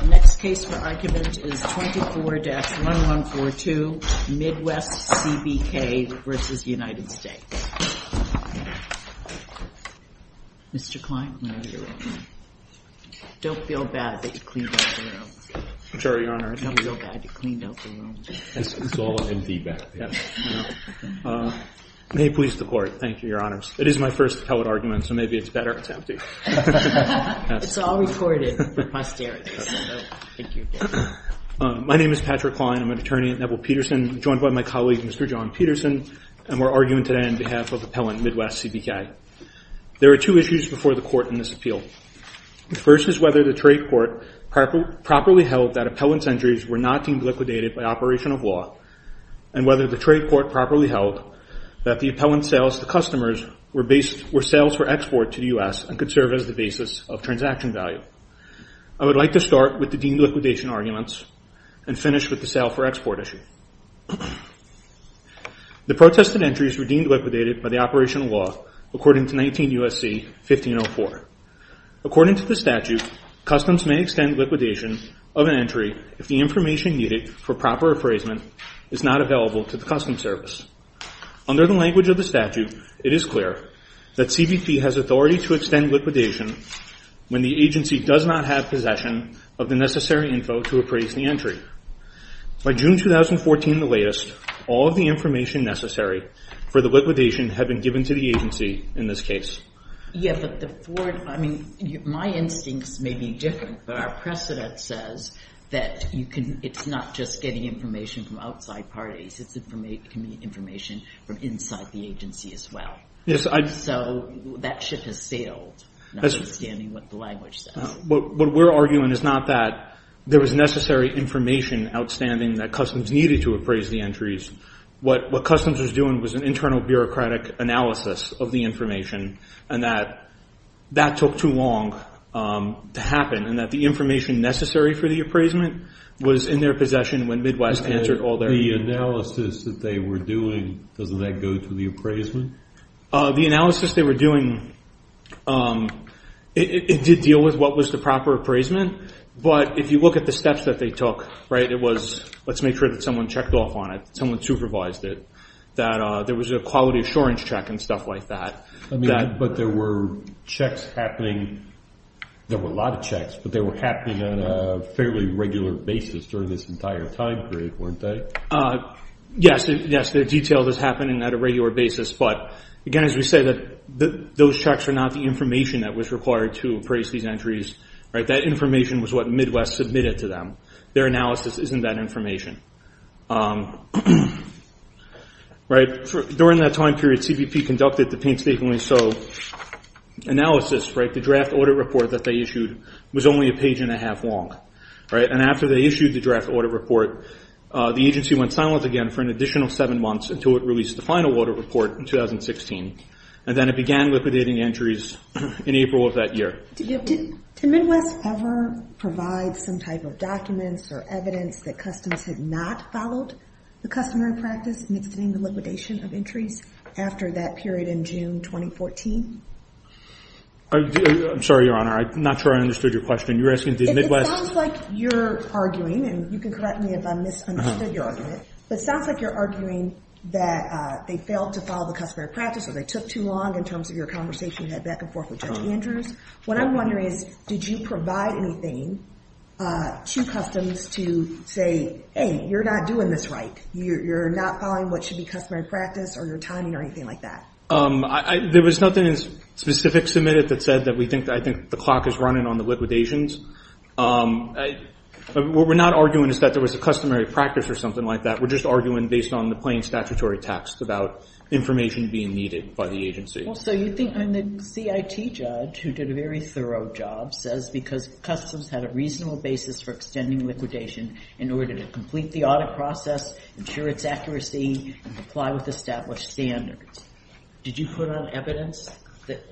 The next case for argument is 24-1142, Midwest-CBK v. United States. Mr. Kline, don't feel bad that you cleaned out the room. I'm sorry, Your Honor. Don't feel bad that you cleaned out the room. It's all in feedback. May it please the Court. Thank you, Your Honors. It is my first appellate argument, so maybe it's better if it's empty. It's all recorded for posterity, so thank you. My name is Patrick Kline. I'm an attorney at Neville Peterson, joined by my colleague, Mr. John Peterson, and we're arguing today on behalf of Appellant Midwest-CBK. There are two issues before the Court in this appeal. The first is whether the trade court properly held that appellant's injuries were not deemed liquidated by operation of law and whether the trade court properly held that the appellant's sales to customers were sales for export to the U.S. and could serve as the basis of transaction value. I would like to start with the deemed liquidation arguments and finish with the sales for export issue. The protested entries were deemed liquidated by the operation of law according to 19 U.S.C. 1504. According to the statute, customs may extend liquidation of an entry if the information needed for proper appraisement is not available to the customs service. Under the language of the statute, it is clear that CBP has authority to extend liquidation when the agency does not have possession of the necessary info to appraise the entry. By June 2014, the latest, all of the information necessary for the liquidation had been given to the agency in this case. Yeah, but the foreign, I mean, my instincts may be different, but our precedent says that you can, it's not just getting information from outside parties. It can be information from inside the agency as well. So that ship has sailed, not understanding what the language says. What we're arguing is not that there was necessary information outstanding that customs needed to appraise the entries. What customs was doing was an internal bureaucratic analysis of the information and that that took too long to happen and that the information necessary for the appraisement was in their possession when Midwest answered all their needs. The analysis that they were doing, doesn't that go to the appraisement? The analysis they were doing, it did deal with what was the proper appraisement, but if you look at the steps that they took, right, it was let's make sure that someone checked off on it, someone supervised it, that there was a quality assurance check and stuff like that. I mean, but there were checks happening, there were a lot of checks, but they were happening on a fairly regular basis during this entire time period, weren't they? Yes, the detail was happening at a regular basis, but again, as we say, those checks are not the information that was required to appraise these entries. That information was what Midwest submitted to them. Their analysis isn't that information. During that time period, CBP conducted the painstakingly so analysis. The draft audit report that they issued was only a page and a half long, and after they issued the draft audit report, the agency went silent again for an additional seven months until it released the final audit report in 2016, and then it began liquidating entries in April of that year. Did Midwest ever provide some type of documents or evidence that customs had not followed the customary practice in extending the liquidation of entries after that period in June 2014? I'm sorry, Your Honor, I'm not sure I understood your question. It sounds like you're arguing, and you can correct me if I misunderstood your argument, but it sounds like you're arguing that they failed to follow the customary practice or they took too long in terms of your conversation you had back and forth with Judge Andrews. What I'm wondering is did you provide anything to customs to say, hey, you're not doing this right. You're not following what should be customary practice or your timing or anything like that. There was nothing specific submitted that said that I think the clock is running on the liquidations. What we're not arguing is that there was a customary practice or something like that. We're just arguing based on the plain statutory text about information being needed by the agency. So you think the CIT judge, who did a very thorough job, says because customs had a reasonable basis for extending liquidation in order to complete the audit process, ensure its accuracy, and comply with established standards. Did you put on evidence that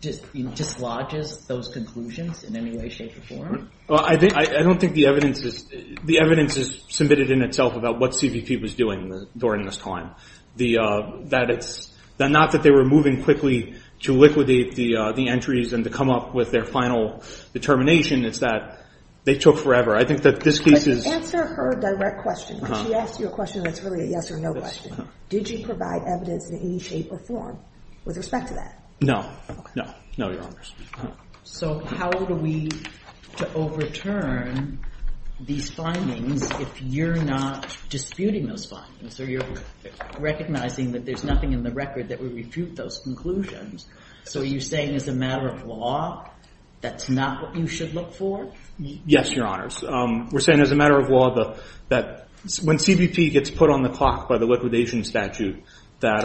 dislodges those conclusions in any way, shape, or form? I don't think the evidence is submitted in itself about what CVP was doing during this time. Not that they were moving quickly to liquidate the entries and to come up with their final determination. It's that they took forever. I think that this case is- Answer her direct question. She asked you a question that's really a yes or no question. Did you provide evidence in any shape or form with respect to that? No. No, Your Honors. So how do we overturn these findings if you're not disputing those findings, or you're recognizing that there's nothing in the record that would refute those conclusions? So are you saying as a matter of law that's not what you should look for? Yes, Your Honors. We're saying as a matter of law that when CVP gets put on the clock by the liquidation statute, that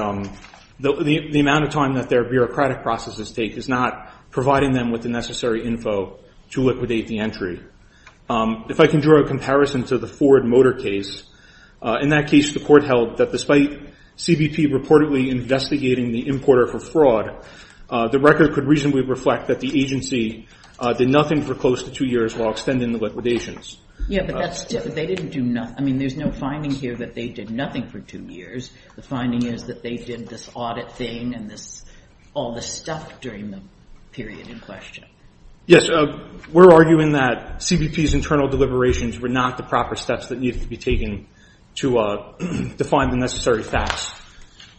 the amount of time that their bureaucratic processes take is not providing them with the necessary info to liquidate the entry. If I can draw a comparison to the Ford Motor case, in that case the court held that despite CVP reportedly investigating the importer for fraud, the record could reasonably reflect that the agency did nothing for close to two years while extending the liquidations. Yeah, but they didn't do nothing. I mean, there's no finding here that they did nothing for two years. The finding is that they did this audit thing and all this stuff during the period in question. Yes. We're arguing that CVP's internal deliberations were not the proper steps that needed to be taken to define the necessary facts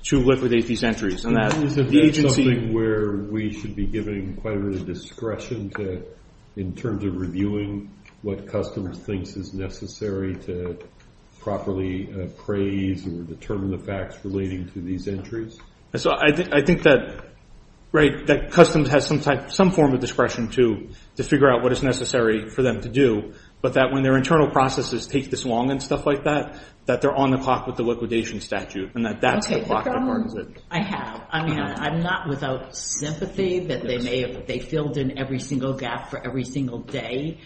to liquidate these entries. And that the agency- Isn't that something where we should be giving quite a bit of discretion in terms of reviewing what customs thinks is necessary to properly appraise or determine the facts relating to these entries? I think that customs has some form of discretion to figure out what is necessary for them to do, but that when their internal processes take this long and stuff like that, that they're on the clock with the liquidation statute and that that's the clock that marks it. I have. I mean, I'm not without sympathy that they filled in every single gap for every single day,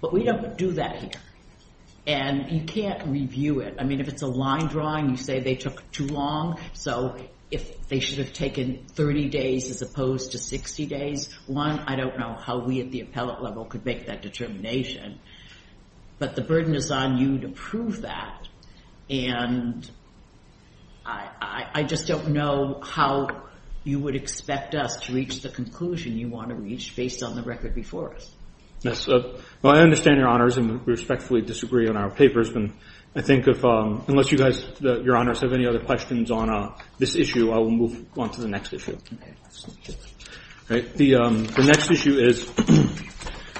but we don't do that here. And you can't review it. I mean, if it's a line drawing, you say they took too long, so if they should have taken 30 days as opposed to 60 days, one, I don't know how we at the appellate level could make that determination. But the burden is on you to prove that, and I just don't know how you would expect us to reach the conclusion you want to reach based on the record before us. Yes. Well, I understand, Your Honors, and we respectfully disagree on our papers, but I think if, unless you guys, Your Honors, have any other questions on this issue, I will move on to the next issue. Okay. All right. The next issue is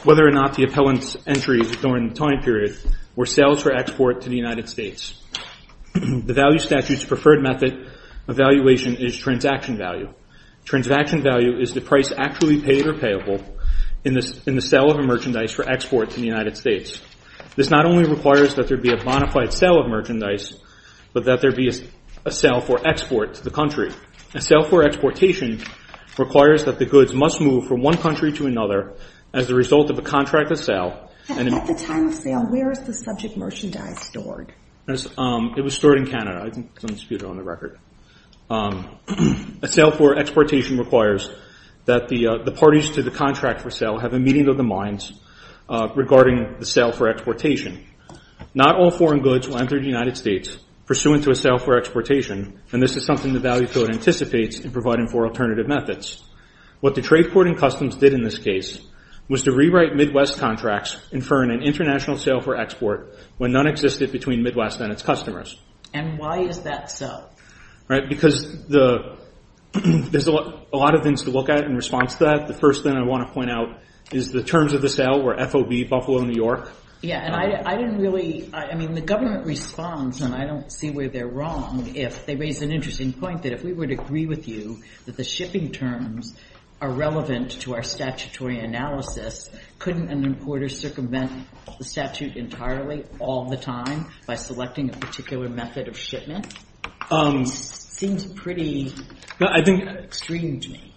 whether or not the appellant's entries during the time period were sales for export to the United States. The value statute's preferred method of evaluation is transaction value. Transaction value is the price actually paid or payable in the sale of a merchandise for export to the United States. This not only requires that there be a bona fide sale of merchandise, but that there be a sale for export to the country. A sale for exportation requires that the goods must move from one country to another as a result of a contract of sale. At the time of sale, where is the subject merchandise stored? It was stored in Canada. I think it's on the record. A sale for exportation requires that the parties to the contract for sale have a meeting of the minds regarding the sale for exportation. Not all foreign goods will enter the United States pursuant to a sale for exportation, and this is something the value code anticipates in providing for alternative methods. What the trade court in customs did in this case was to rewrite Midwest contracts inferring an international sale for export when none existed between Midwest and its customers. And why is that so? Because there's a lot of things to look at in response to that. The first thing I want to point out is the terms of the sale were FOB, Buffalo, New York. Yeah, and I didn't really – I mean, the government responds, and I don't see where they're wrong. They raised an interesting point that if we were to agree with you that the shipping terms are relevant to our statutory analysis, couldn't an importer circumvent the statute entirely all the time by selecting a particular method of shipment? It seems pretty extreme to me.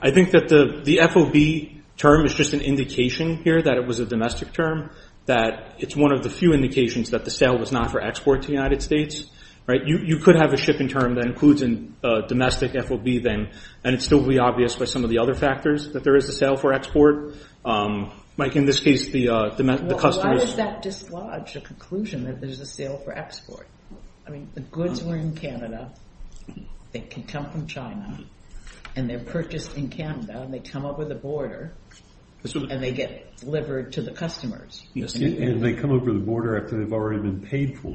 I think that the FOB term is just an indication here that it was a domestic term, that it's one of the few indications that the sale was not for export to the United States. You could have a shipping term that includes a domestic FOB then, and it still would be obvious by some of the other factors that there is a sale for export. Mike, in this case, the customers – Why does that dislodge the conclusion that there's a sale for export? I mean, the goods were in Canada. They can come from China, and they're purchased in Canada, and they come over the border, and they get delivered to the customers. And they come over the border after they've already been paid for.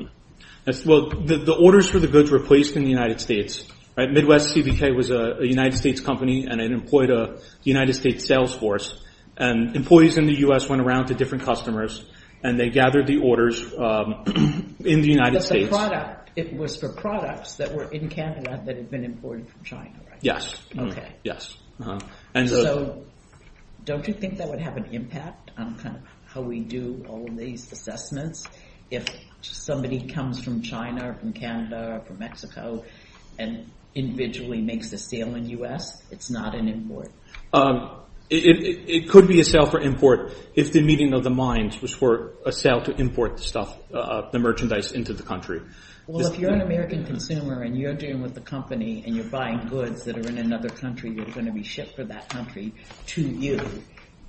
Well, the orders for the goods were placed in the United States. Midwest CVK was a United States company, and it employed a United States sales force. And employees in the U.S. went around to different customers, and they gathered the orders in the United States. But the product, it was for products that were in Canada that had been imported from China, right? Yes. Okay. Yes. So don't you think that would have an impact on how we do all of these assessments? If somebody comes from China or from Canada or from Mexico and individually makes a sale in the U.S., it's not an import? It could be a sale for import if the meeting of the minds was for a sale to import the stuff, the merchandise into the country. Well, if you're an American consumer and you're dealing with a company and you're buying goods that are in another country that are going to be shipped for that country to you,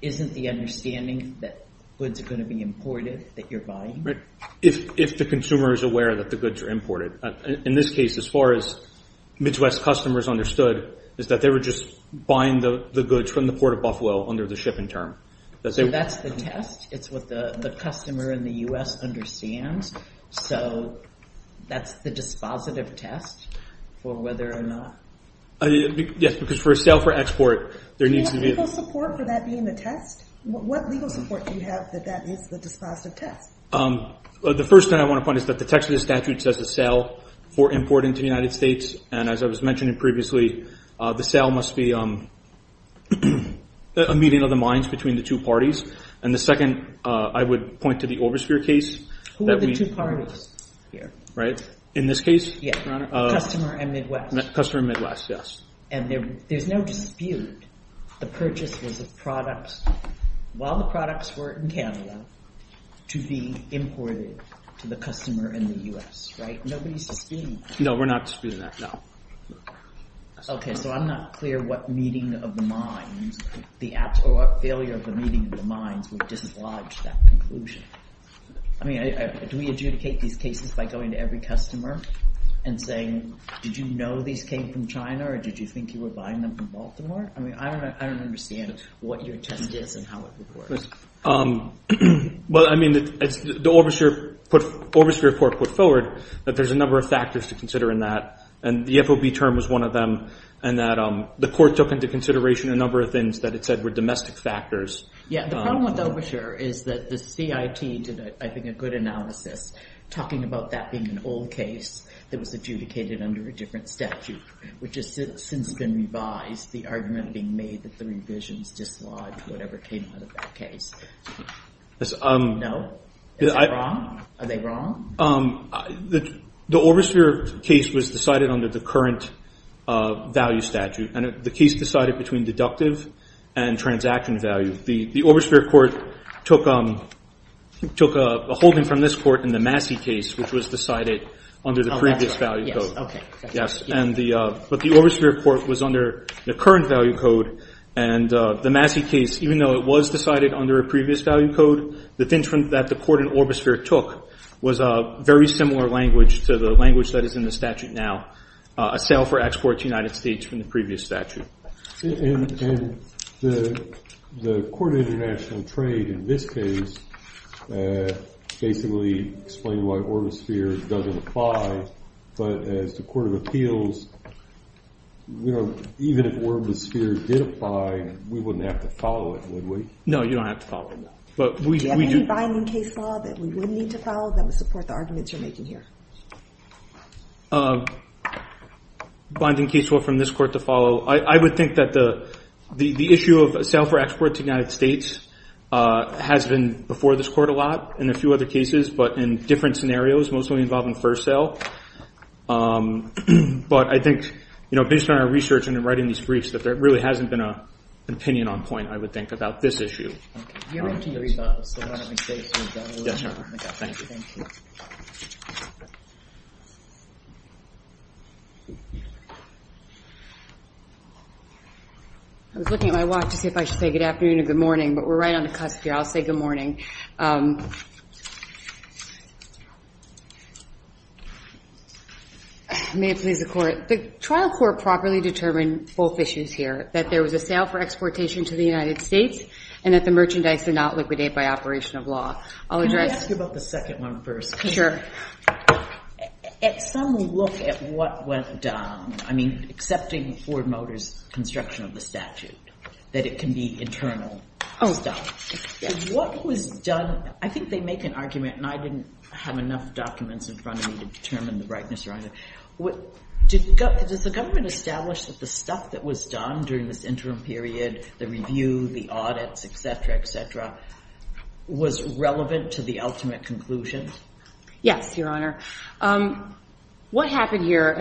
isn't the understanding that goods are going to be imported that you're buying? If the consumer is aware that the goods are imported. In this case, as far as Midwest customers understood, is that they were just buying the goods from the Port of Buffalo under the shipping term. So that's the test? It's what the customer in the U.S. understands? So that's the dispositive test for whether or not? Yes, because for a sale for export, there needs to be – Do you have legal support for that being the test? What legal support do you have that that is the dispositive test? The first thing I want to point is that the text of the statute says a sale for import into the United States, and as I was mentioning previously, the sale must be a meeting of the minds between the two parties. And the second, I would point to the Oversphere case. Who are the two parties here? In this case? Customer and Midwest. Customer and Midwest, yes. And there's no dispute the purchase was a product. While the products were in Canada, to be imported to the customer in the U.S., right? Nobody's disputing that. No, we're not disputing that, no. Okay, so I'm not clear what meeting of the minds, the failure of the meeting of the minds would dislodge that conclusion. I mean, do we adjudicate these cases by going to every customer and saying, did you know these came from China or did you think you were buying them from Baltimore? I mean, I don't understand what your intent is and how it would work. Well, I mean, the Oversphere report put forward that there's a number of factors to consider in that, and the FOB term was one of them, and that the court took into consideration a number of things that it said were domestic factors. Yeah, the problem with Oversphere is that the CIT did, I think, a good analysis, talking about that being an old case that was adjudicated under a different statute, which has since been revised, the argument being made that the revisions dislodged whatever came out of that case. No? Is it wrong? Are they wrong? The Oversphere case was decided under the current value statute, and the case decided between deductive and transaction value. The Oversphere court took a holding from this court in the Massey case, which was decided under the previous value code. Okay. Yes, but the Oversphere court was under the current value code, and the Massey case, even though it was decided under a previous value code, the thing that the court in Oversphere took was a very similar language to the language that is in the statute now, a sale for export to the United States from the previous statute. And the court of international trade in this case basically explained why Oversphere doesn't apply, but as the court of appeals, even if Oversphere did apply, we wouldn't have to follow it, would we? No, you don't have to follow it. Do you have any binding case law that we would need to follow that would support the arguments you're making here? Binding case law from this court to follow, I would think that the issue of a sale for export to the United States has been before this court a lot, in a few other cases, but in different scenarios, mostly involving first sale. But I think, you know, based on our research and in writing these briefs, that there really hasn't been an opinion on point, I would think, about this issue. Okay. Do you want me to read that? Yes, ma'am. Thank you. Thank you. I was looking at my watch to see if I should say good afternoon or good morning, but we're right on the cusp here. I'll say good morning. May it please the court. The trial court properly determined both issues here, that there was a sale for exportation to the United States, and that the merchandise did not liquidate by operation of law. Can I ask you about the second one first? Sure. At some look at what went down, I mean, Ford Motors construction of the statute, that it can be internal stuff. What was done? I think they make an argument, and I didn't have enough documents in front of me to determine the brightness around it. Does the government establish that the stuff that was done during this interim period, the review, the audits, et cetera, et cetera, was relevant to the ultimate conclusion? Yes, Your Honor. What happened here?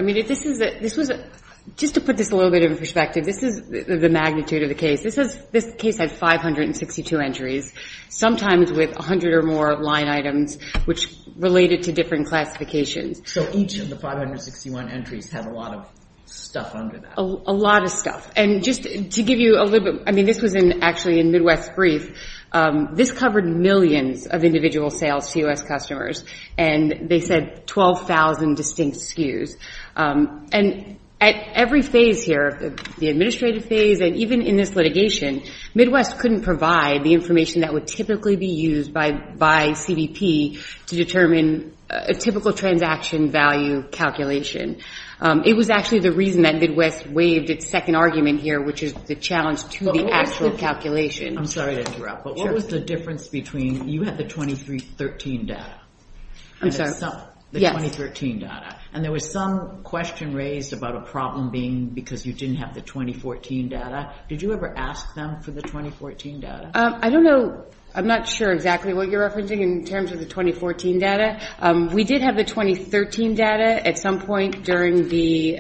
Just to put this a little bit in perspective, this is the magnitude of the case. This case had 562 entries, sometimes with 100 or more line items, which related to different classifications. So each of the 561 entries had a lot of stuff under that? A lot of stuff. And just to give you a little bit, I mean, this was actually in Midwest Brief. This covered millions of individual sales to U.S. customers, and they said 12,000 distinct SKUs. And at every phase here, the administrative phase, and even in this litigation, Midwest couldn't provide the information that would typically be used by CBP to determine a typical transaction value calculation. It was actually the reason that Midwest waived its second argument here, which is the challenge to the actual calculation. I'm sorry to interrupt, but what was the difference between you had the 2013 data? I'm sorry? Yes. The 2013 data. And there was some question raised about a problem being because you didn't have the 2014 data. Did you ever ask them for the 2014 data? I don't know. I'm not sure exactly what you're referencing in terms of the 2014 data. We did have the 2013 data at some point during the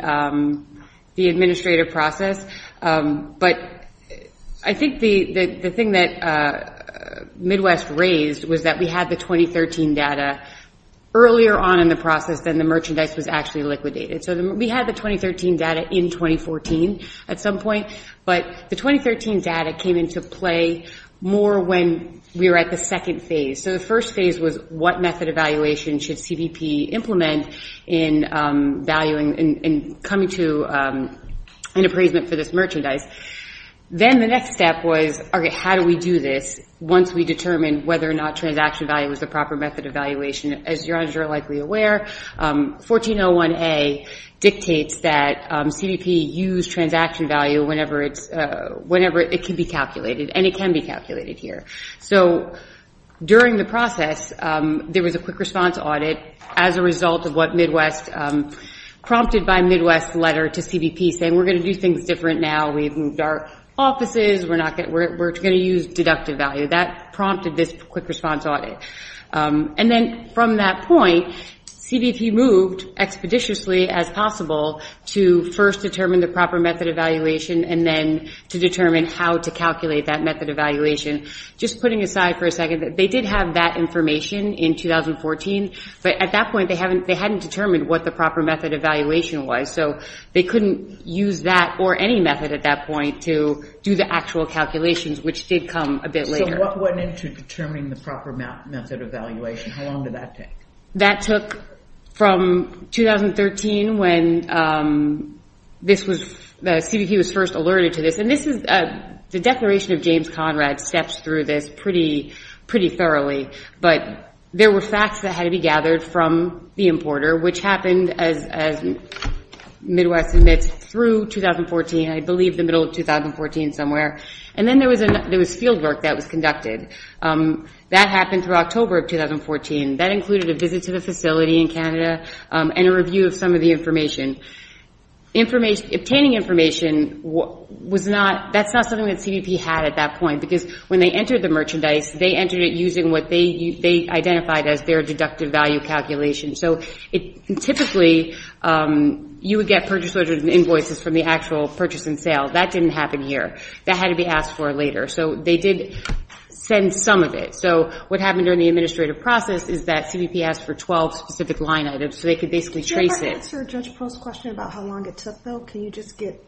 administrative process. But I think the thing that Midwest raised was that we had the 2013 data earlier on in the process than the merchandise was actually liquidated. So we had the 2013 data in 2014 at some point, but the 2013 data came into play more when we were at the second phase. So the first phase was what method evaluation should CBP implement in coming to an appraisement for this merchandise. Then the next step was, okay, how do we do this once we determine whether or not transaction value is the proper method of evaluation? As you're likely aware, 1401A dictates that CBP use transaction value whenever it can be calculated, and it can be calculated here. So during the process, there was a quick response audit as a result of what Midwest prompted by Midwest's letter to CBP saying we're going to do things different now, we've moved our offices, we're going to use deductive value. That prompted this quick response audit. And then from that point, CBP moved expeditiously as possible to first determine the proper method of evaluation and then to determine how to calculate that method of evaluation. Just putting aside for a second, they did have that information in 2014, but at that point they hadn't determined what the proper method of evaluation was. So they couldn't use that or any method at that point to do the actual calculations, which did come a bit later. So what went into determining the proper method of evaluation? How long did that take? That took from 2013 when the CBP was first alerted to this. And the Declaration of James Conrad steps through this pretty thoroughly. But there were facts that had to be gathered from the importer, which happened, as Midwest admits, through 2014, I believe the middle of 2014 somewhere. And then there was field work that was conducted. That happened through October of 2014. That included a visit to the facility in Canada and a review of some of the Obtaining information, that's not something that CBP had at that point, because when they entered the merchandise, they entered it using what they identified as their deductive value calculation. So typically you would get purchase orders and invoices from the actual purchase and sale. That didn't happen here. That had to be asked for later. So they did send some of it. So what happened during the administrative process is that CBP asked for 12 specific line items, so they could basically trace it. Can you answer Judge Post's question about how long it took, though? Can you just get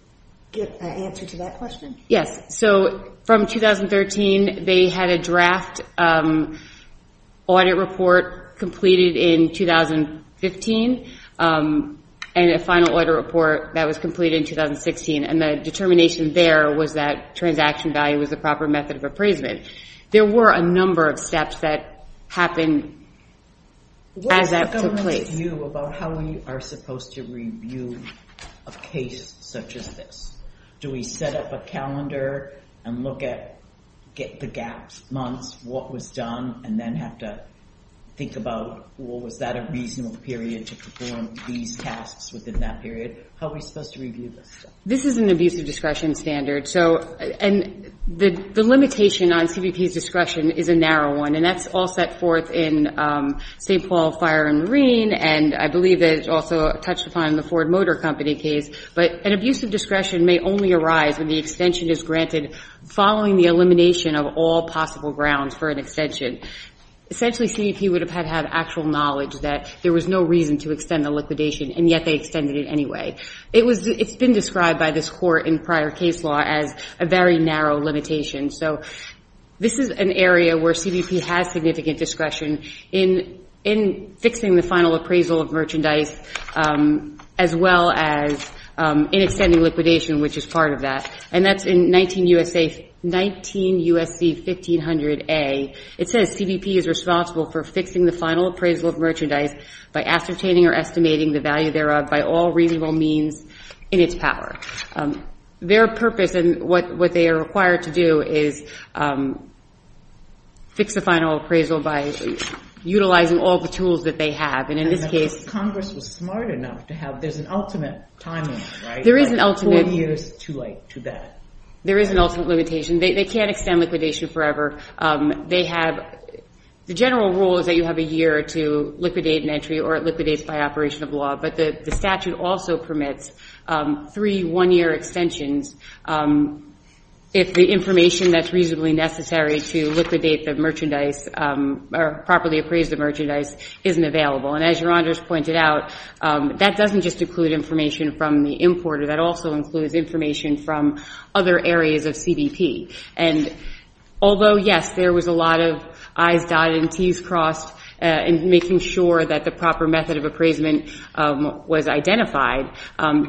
an answer to that question? Yes. So from 2013, they had a draft audit report completed in 2015 and a final audit report that was completed in 2016. And the determination there was that transaction value was the proper method of appraisement. There were a number of steps that happened as that took place. What is the government's view about how we are supposed to review a case such as this? Do we set up a calendar and look at the gaps, months, what was done, and then have to think about, well, was that a reasonable period to perform these tasks within that period? How are we supposed to review this? This is an abusive discretion standard. And the limitation on CBP's discretion is a narrow one, and that's all set forth in St. Paul Fire and Marine, and I believe it's also touched upon in the Ford Motor Company case. But an abusive discretion may only arise when the extension is granted following the elimination of all possible grounds for an extension. Essentially, CBP would have had actual knowledge that there was no reason to extend the liquidation, and yet they extended it anyway. It's been described by this court in prior case law as a very narrow limitation. So this is an area where CBP has significant discretion in fixing the final appraisal of merchandise as well as in extending liquidation, which is part of that. And that's in 19 U.S.C. 1500A. It says CBP is responsible for fixing the final appraisal of merchandise by ascertaining or estimating the value thereof by all reasonable means in its power. Their purpose and what they are required to do is fix the final appraisal by utilizing all the tools that they have. And in this case Congress was smart enough to have this ultimate timing, right? There is an ultimate. Four years too late to that. There is an ultimate limitation. They can't extend liquidation forever. The general rule is that you have a year to liquidate an entry or it liquidates by operation of law. But the statute also permits three one-year extensions if the information that's reasonably necessary to liquidate the merchandise or properly appraise the merchandise isn't available. And as Your Honor has pointed out, that doesn't just include information from the importer. That also includes information from other areas of CBP. And although, yes, there was a lot of I's dotted and T's crossed in making sure that the proper method of appraisement was identified,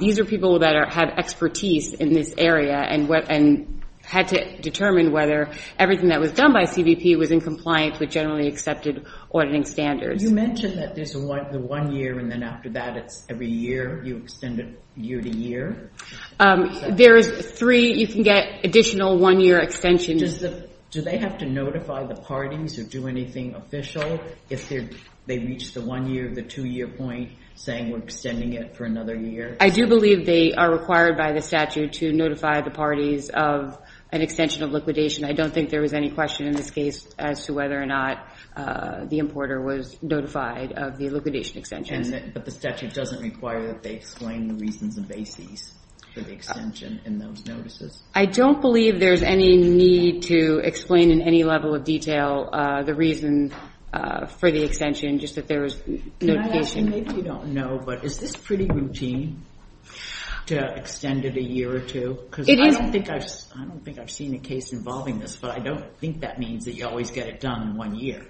these are people that have expertise in this area and had to determine whether everything that was done by CBP was in compliance with generally accepted auditing standards. You mentioned that there's the one year and then after that it's every year. You extend it year to year? There is three. You can get additional one-year extensions. Do they have to notify the parties or do anything official if they reach the one-year, the two-year point saying we're extending it for another year? I do believe they are required by the statute to notify the parties of an extension of liquidation. I don't think there was any question in this case as to whether or not the importer was notified of the liquidation extension. But the statute doesn't require that they explain the reasons and bases for the extension in those notices? I don't believe there's any need to explain in any level of detail the reason for the extension, just that there was notification. And I actually maybe don't know, but is this pretty routine to extend it a year or two? Because I don't think I've seen a case involving this, but I don't think that means that you always get it done in one year.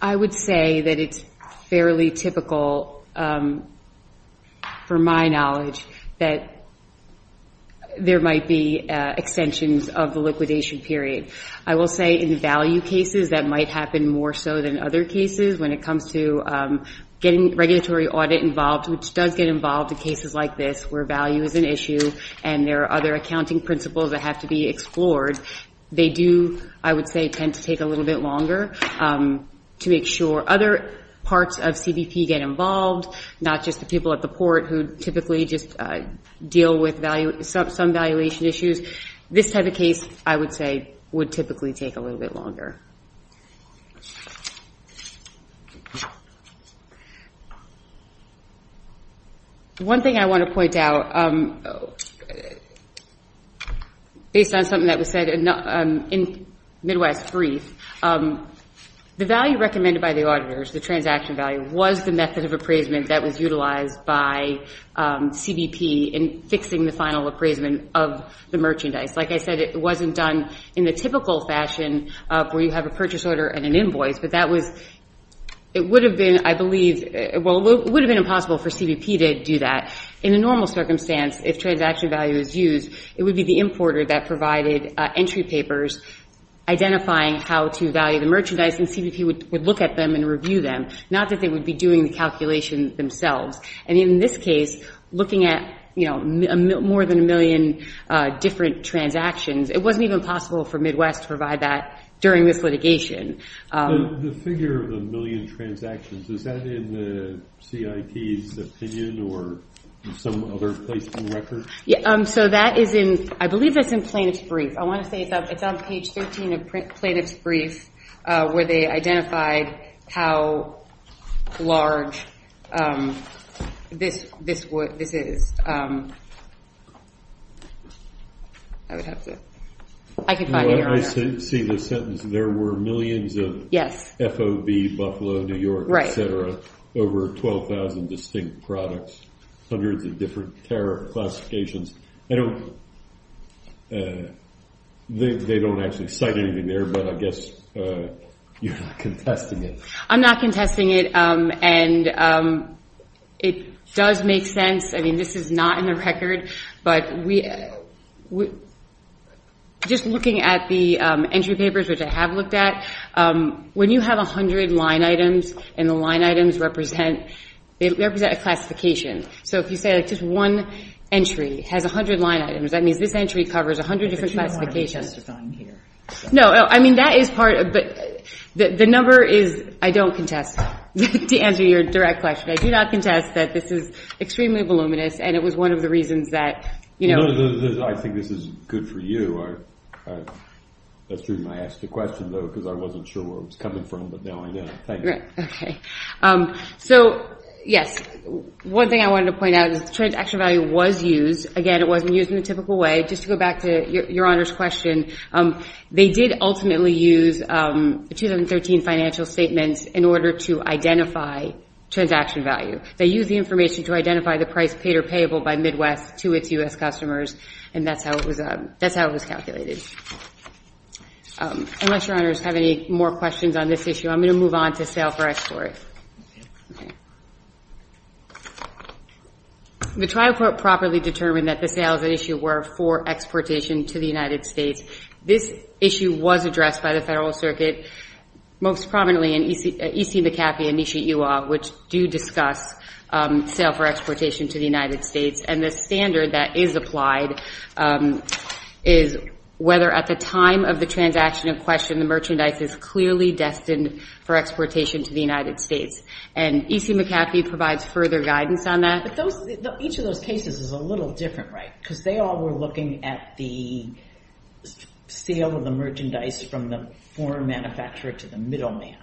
I would say that it's fairly typical, for my knowledge, that there might be extensions of the liquidation period. I will say in value cases that might happen more so than other cases when it comes to getting regulatory audit involved, which does get involved in cases like this where value is an issue and there are other accounting principles that have to be explored. They do, I would say, tend to take a little bit longer to make sure other parts of CBP get involved, not just the people at the port who typically just deal with some valuation issues. This type of case, I would say, would typically take a little bit longer. One thing I want to point out, based on something that was said in Midwest Brief, the value recommended by the auditors, the transaction value, was the method of appraisement that was utilized by CBP in fixing the final appraisement of the merchandise. Like I said, it wasn't done in the typical fashion where you have a purchase order and an invoice, but it would have been impossible for CBP to do that. In a normal circumstance, if transaction value is used, it would be the importer that provided entry papers identifying how to value the merchandise, and CBP would look at them and review them, not that they would be doing the calculation themselves. In this case, looking at more than a million different transactions, it wasn't even possible for Midwest to provide that during this litigation. The figure of a million transactions, is that in the CIP's opinion or some other place in the record? I believe that's in Plaintiff's Brief. I want to say it's on page 13 of Plaintiff's Brief, where they identified how large this is. I see the sentence, there were millions of FOB, Buffalo, New York, etc. Over 12,000 distinct products, hundreds of different tariff classifications. They don't actually cite anything there, but I guess you're not contesting it. I'm not contesting it, and it does make sense. This is not in the record, but just looking at the entry papers, which I have looked at, when you have 100 line items, and the line items represent a classification. If you say just one entry has 100 line items, that means this entry covers 100 different classifications. The number is, I don't contest, to answer your direct question. I do not contest that this is extremely voluminous, and it was one of the reasons that... I think this is good for you. That's the reason I asked the question, though, because I wasn't sure where it was coming from, but now I know. One thing I wanted to point out is the transaction value was used. Again, it wasn't used in a typical way. Just to go back to Your Honor's question, they did ultimately use the 2013 financial statements in order to identify transaction value. They used the information to identify the price paid or payable by Midwest to its U.S. customers, and that's how it was calculated. Unless Your Honors have any more questions on this issue, I'm going to move on to sale for export. Sorry. The trial court properly determined that the sales at issue were for exportation to the United States. This issue was addressed by the Federal Circuit, most prominently in E.C. McAfee and E.C. Ewald, which do discuss sale for exportation to the United States, and the standard that is applied is whether at the time of the transaction in question, the merchandise is clearly destined for exportation to the United States. And E.C. McAfee provides further guidance on that. But each of those cases is a little different, right? Because they all were looking at the sale of the merchandise from the foreign manufacturer to the middleman.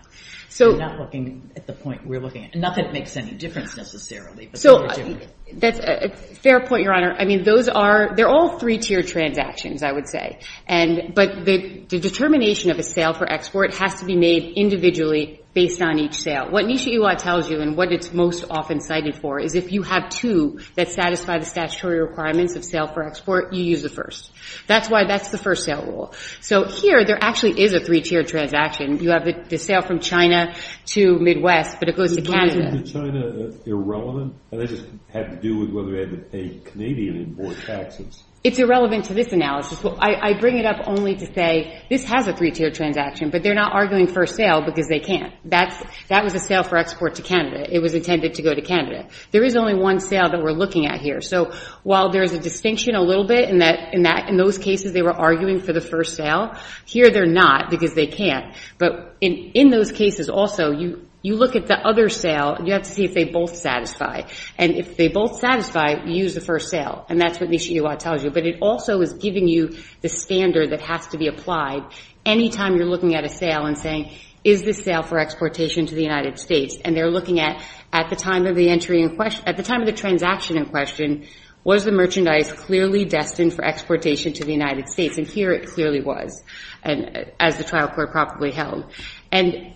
They're not looking at the point we're looking at. Not that it makes any difference, necessarily, but they were different. Fair point, Your Honor. I mean, those are all three-tier transactions, I would say. But the determination of a sale for export has to be made individually based on each sale. What Nisha Ewald tells you and what it's most often cited for is if you have two that satisfy the statutory requirements of sale for export, you use the first. That's why that's the first sale rule. So here, there actually is a three-tier transaction. You have the sale from China to Midwest, but it goes to Canada. Isn't the sale from China irrelevant? It just had to do with whether they had to pay Canadian import taxes. It's irrelevant to this analysis. I bring it up only to say this has a three-tier transaction, but they're not arguing first sale because they can't. That was a sale for export to Canada. It was intended to go to Canada. There is only one sale that we're looking at here. So while there is a distinction a little bit in those cases they were arguing for the first sale, here they're not because they can't. But in those cases also, you look at the other sale. You have to see if they both satisfy. And if they both satisfy, you use the first sale. And that's what Nisha Ewald tells you. But it also is giving you the standard that has to be applied any time you're looking at a sale and saying, is this sale for exportation to the United States? And they're looking at, at the time of the transaction in question, was the merchandise clearly destined for exportation to the United States? And here it clearly was, as the trial court probably held. And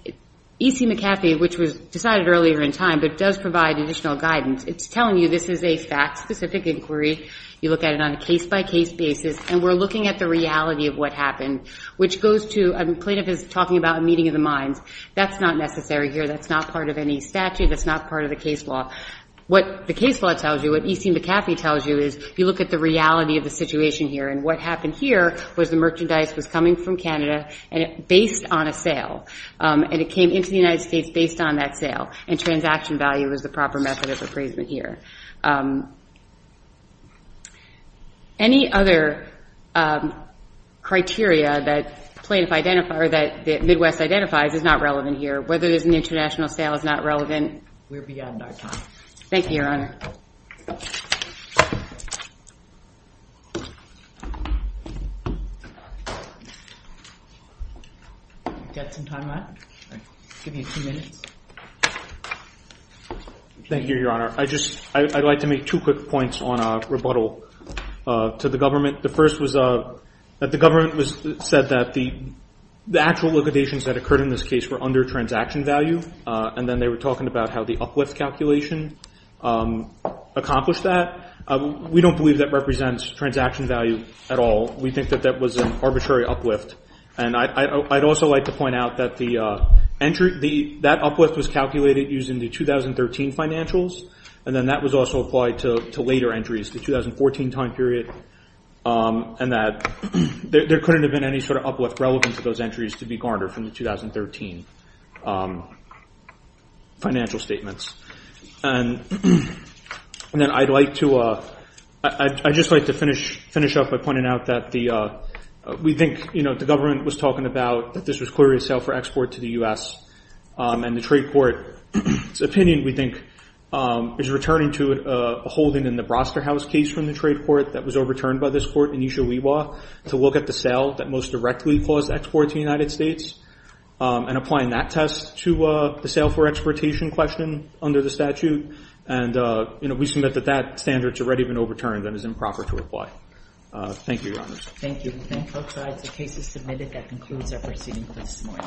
E.C. McCarthy, which was decided earlier in time but does provide additional guidance, it's telling you this is a fact-specific inquiry. You look at it on a case-by-case basis. And we're looking at the reality of what happened, which goes to, a plaintiff is talking about a meeting of the minds. That's not necessary here. That's not part of any statute. That's not part of the case law. What the case law tells you, what E.C. McCarthy tells you, is you look at the reality of the situation here. And what happened here was the merchandise was coming from Canada based on a sale. And it came into the United States based on that sale. And transaction value is the proper method of appraisal here. Any other criteria that the plaintiff identifies or that Midwest identifies is not relevant here. Whether there's an international sale is not relevant. We're beyond our time. Thank you, Your Honor. Thank you, Your Honor. I'd like to make two quick points on rebuttal to the government. The first was that the government said that the actual liquidations that occurred in this case were under transaction value. And then they were talking about how the uplift calculation accomplished that. We don't believe that represents transaction value at all. We think that that was an arbitrary uplift. And I'd also like to point out that that uplift was calculated using the 2013 financials. And then that was also applied to later entries, the 2014 time period, and that there couldn't have been any sort of uplift relevant to those entries to be garnered from the 2013 financial statements. And then I'd like to finish up by pointing out that we think the government was talking about that this was clearly a sale for export to the U.S. And the trade court's opinion, we think, is returning to a holding in the Broster House case from the trade court that was overturned by this court, Anisha Wewa, to look at the sale that most directly caused export to the United States and applying that test to the sale for exportation question under the statute. And we submit that that standard has already been overturned and is improper to apply. Thank you, Your Honor. Thank you. The case is submitted. That concludes our proceedings this morning.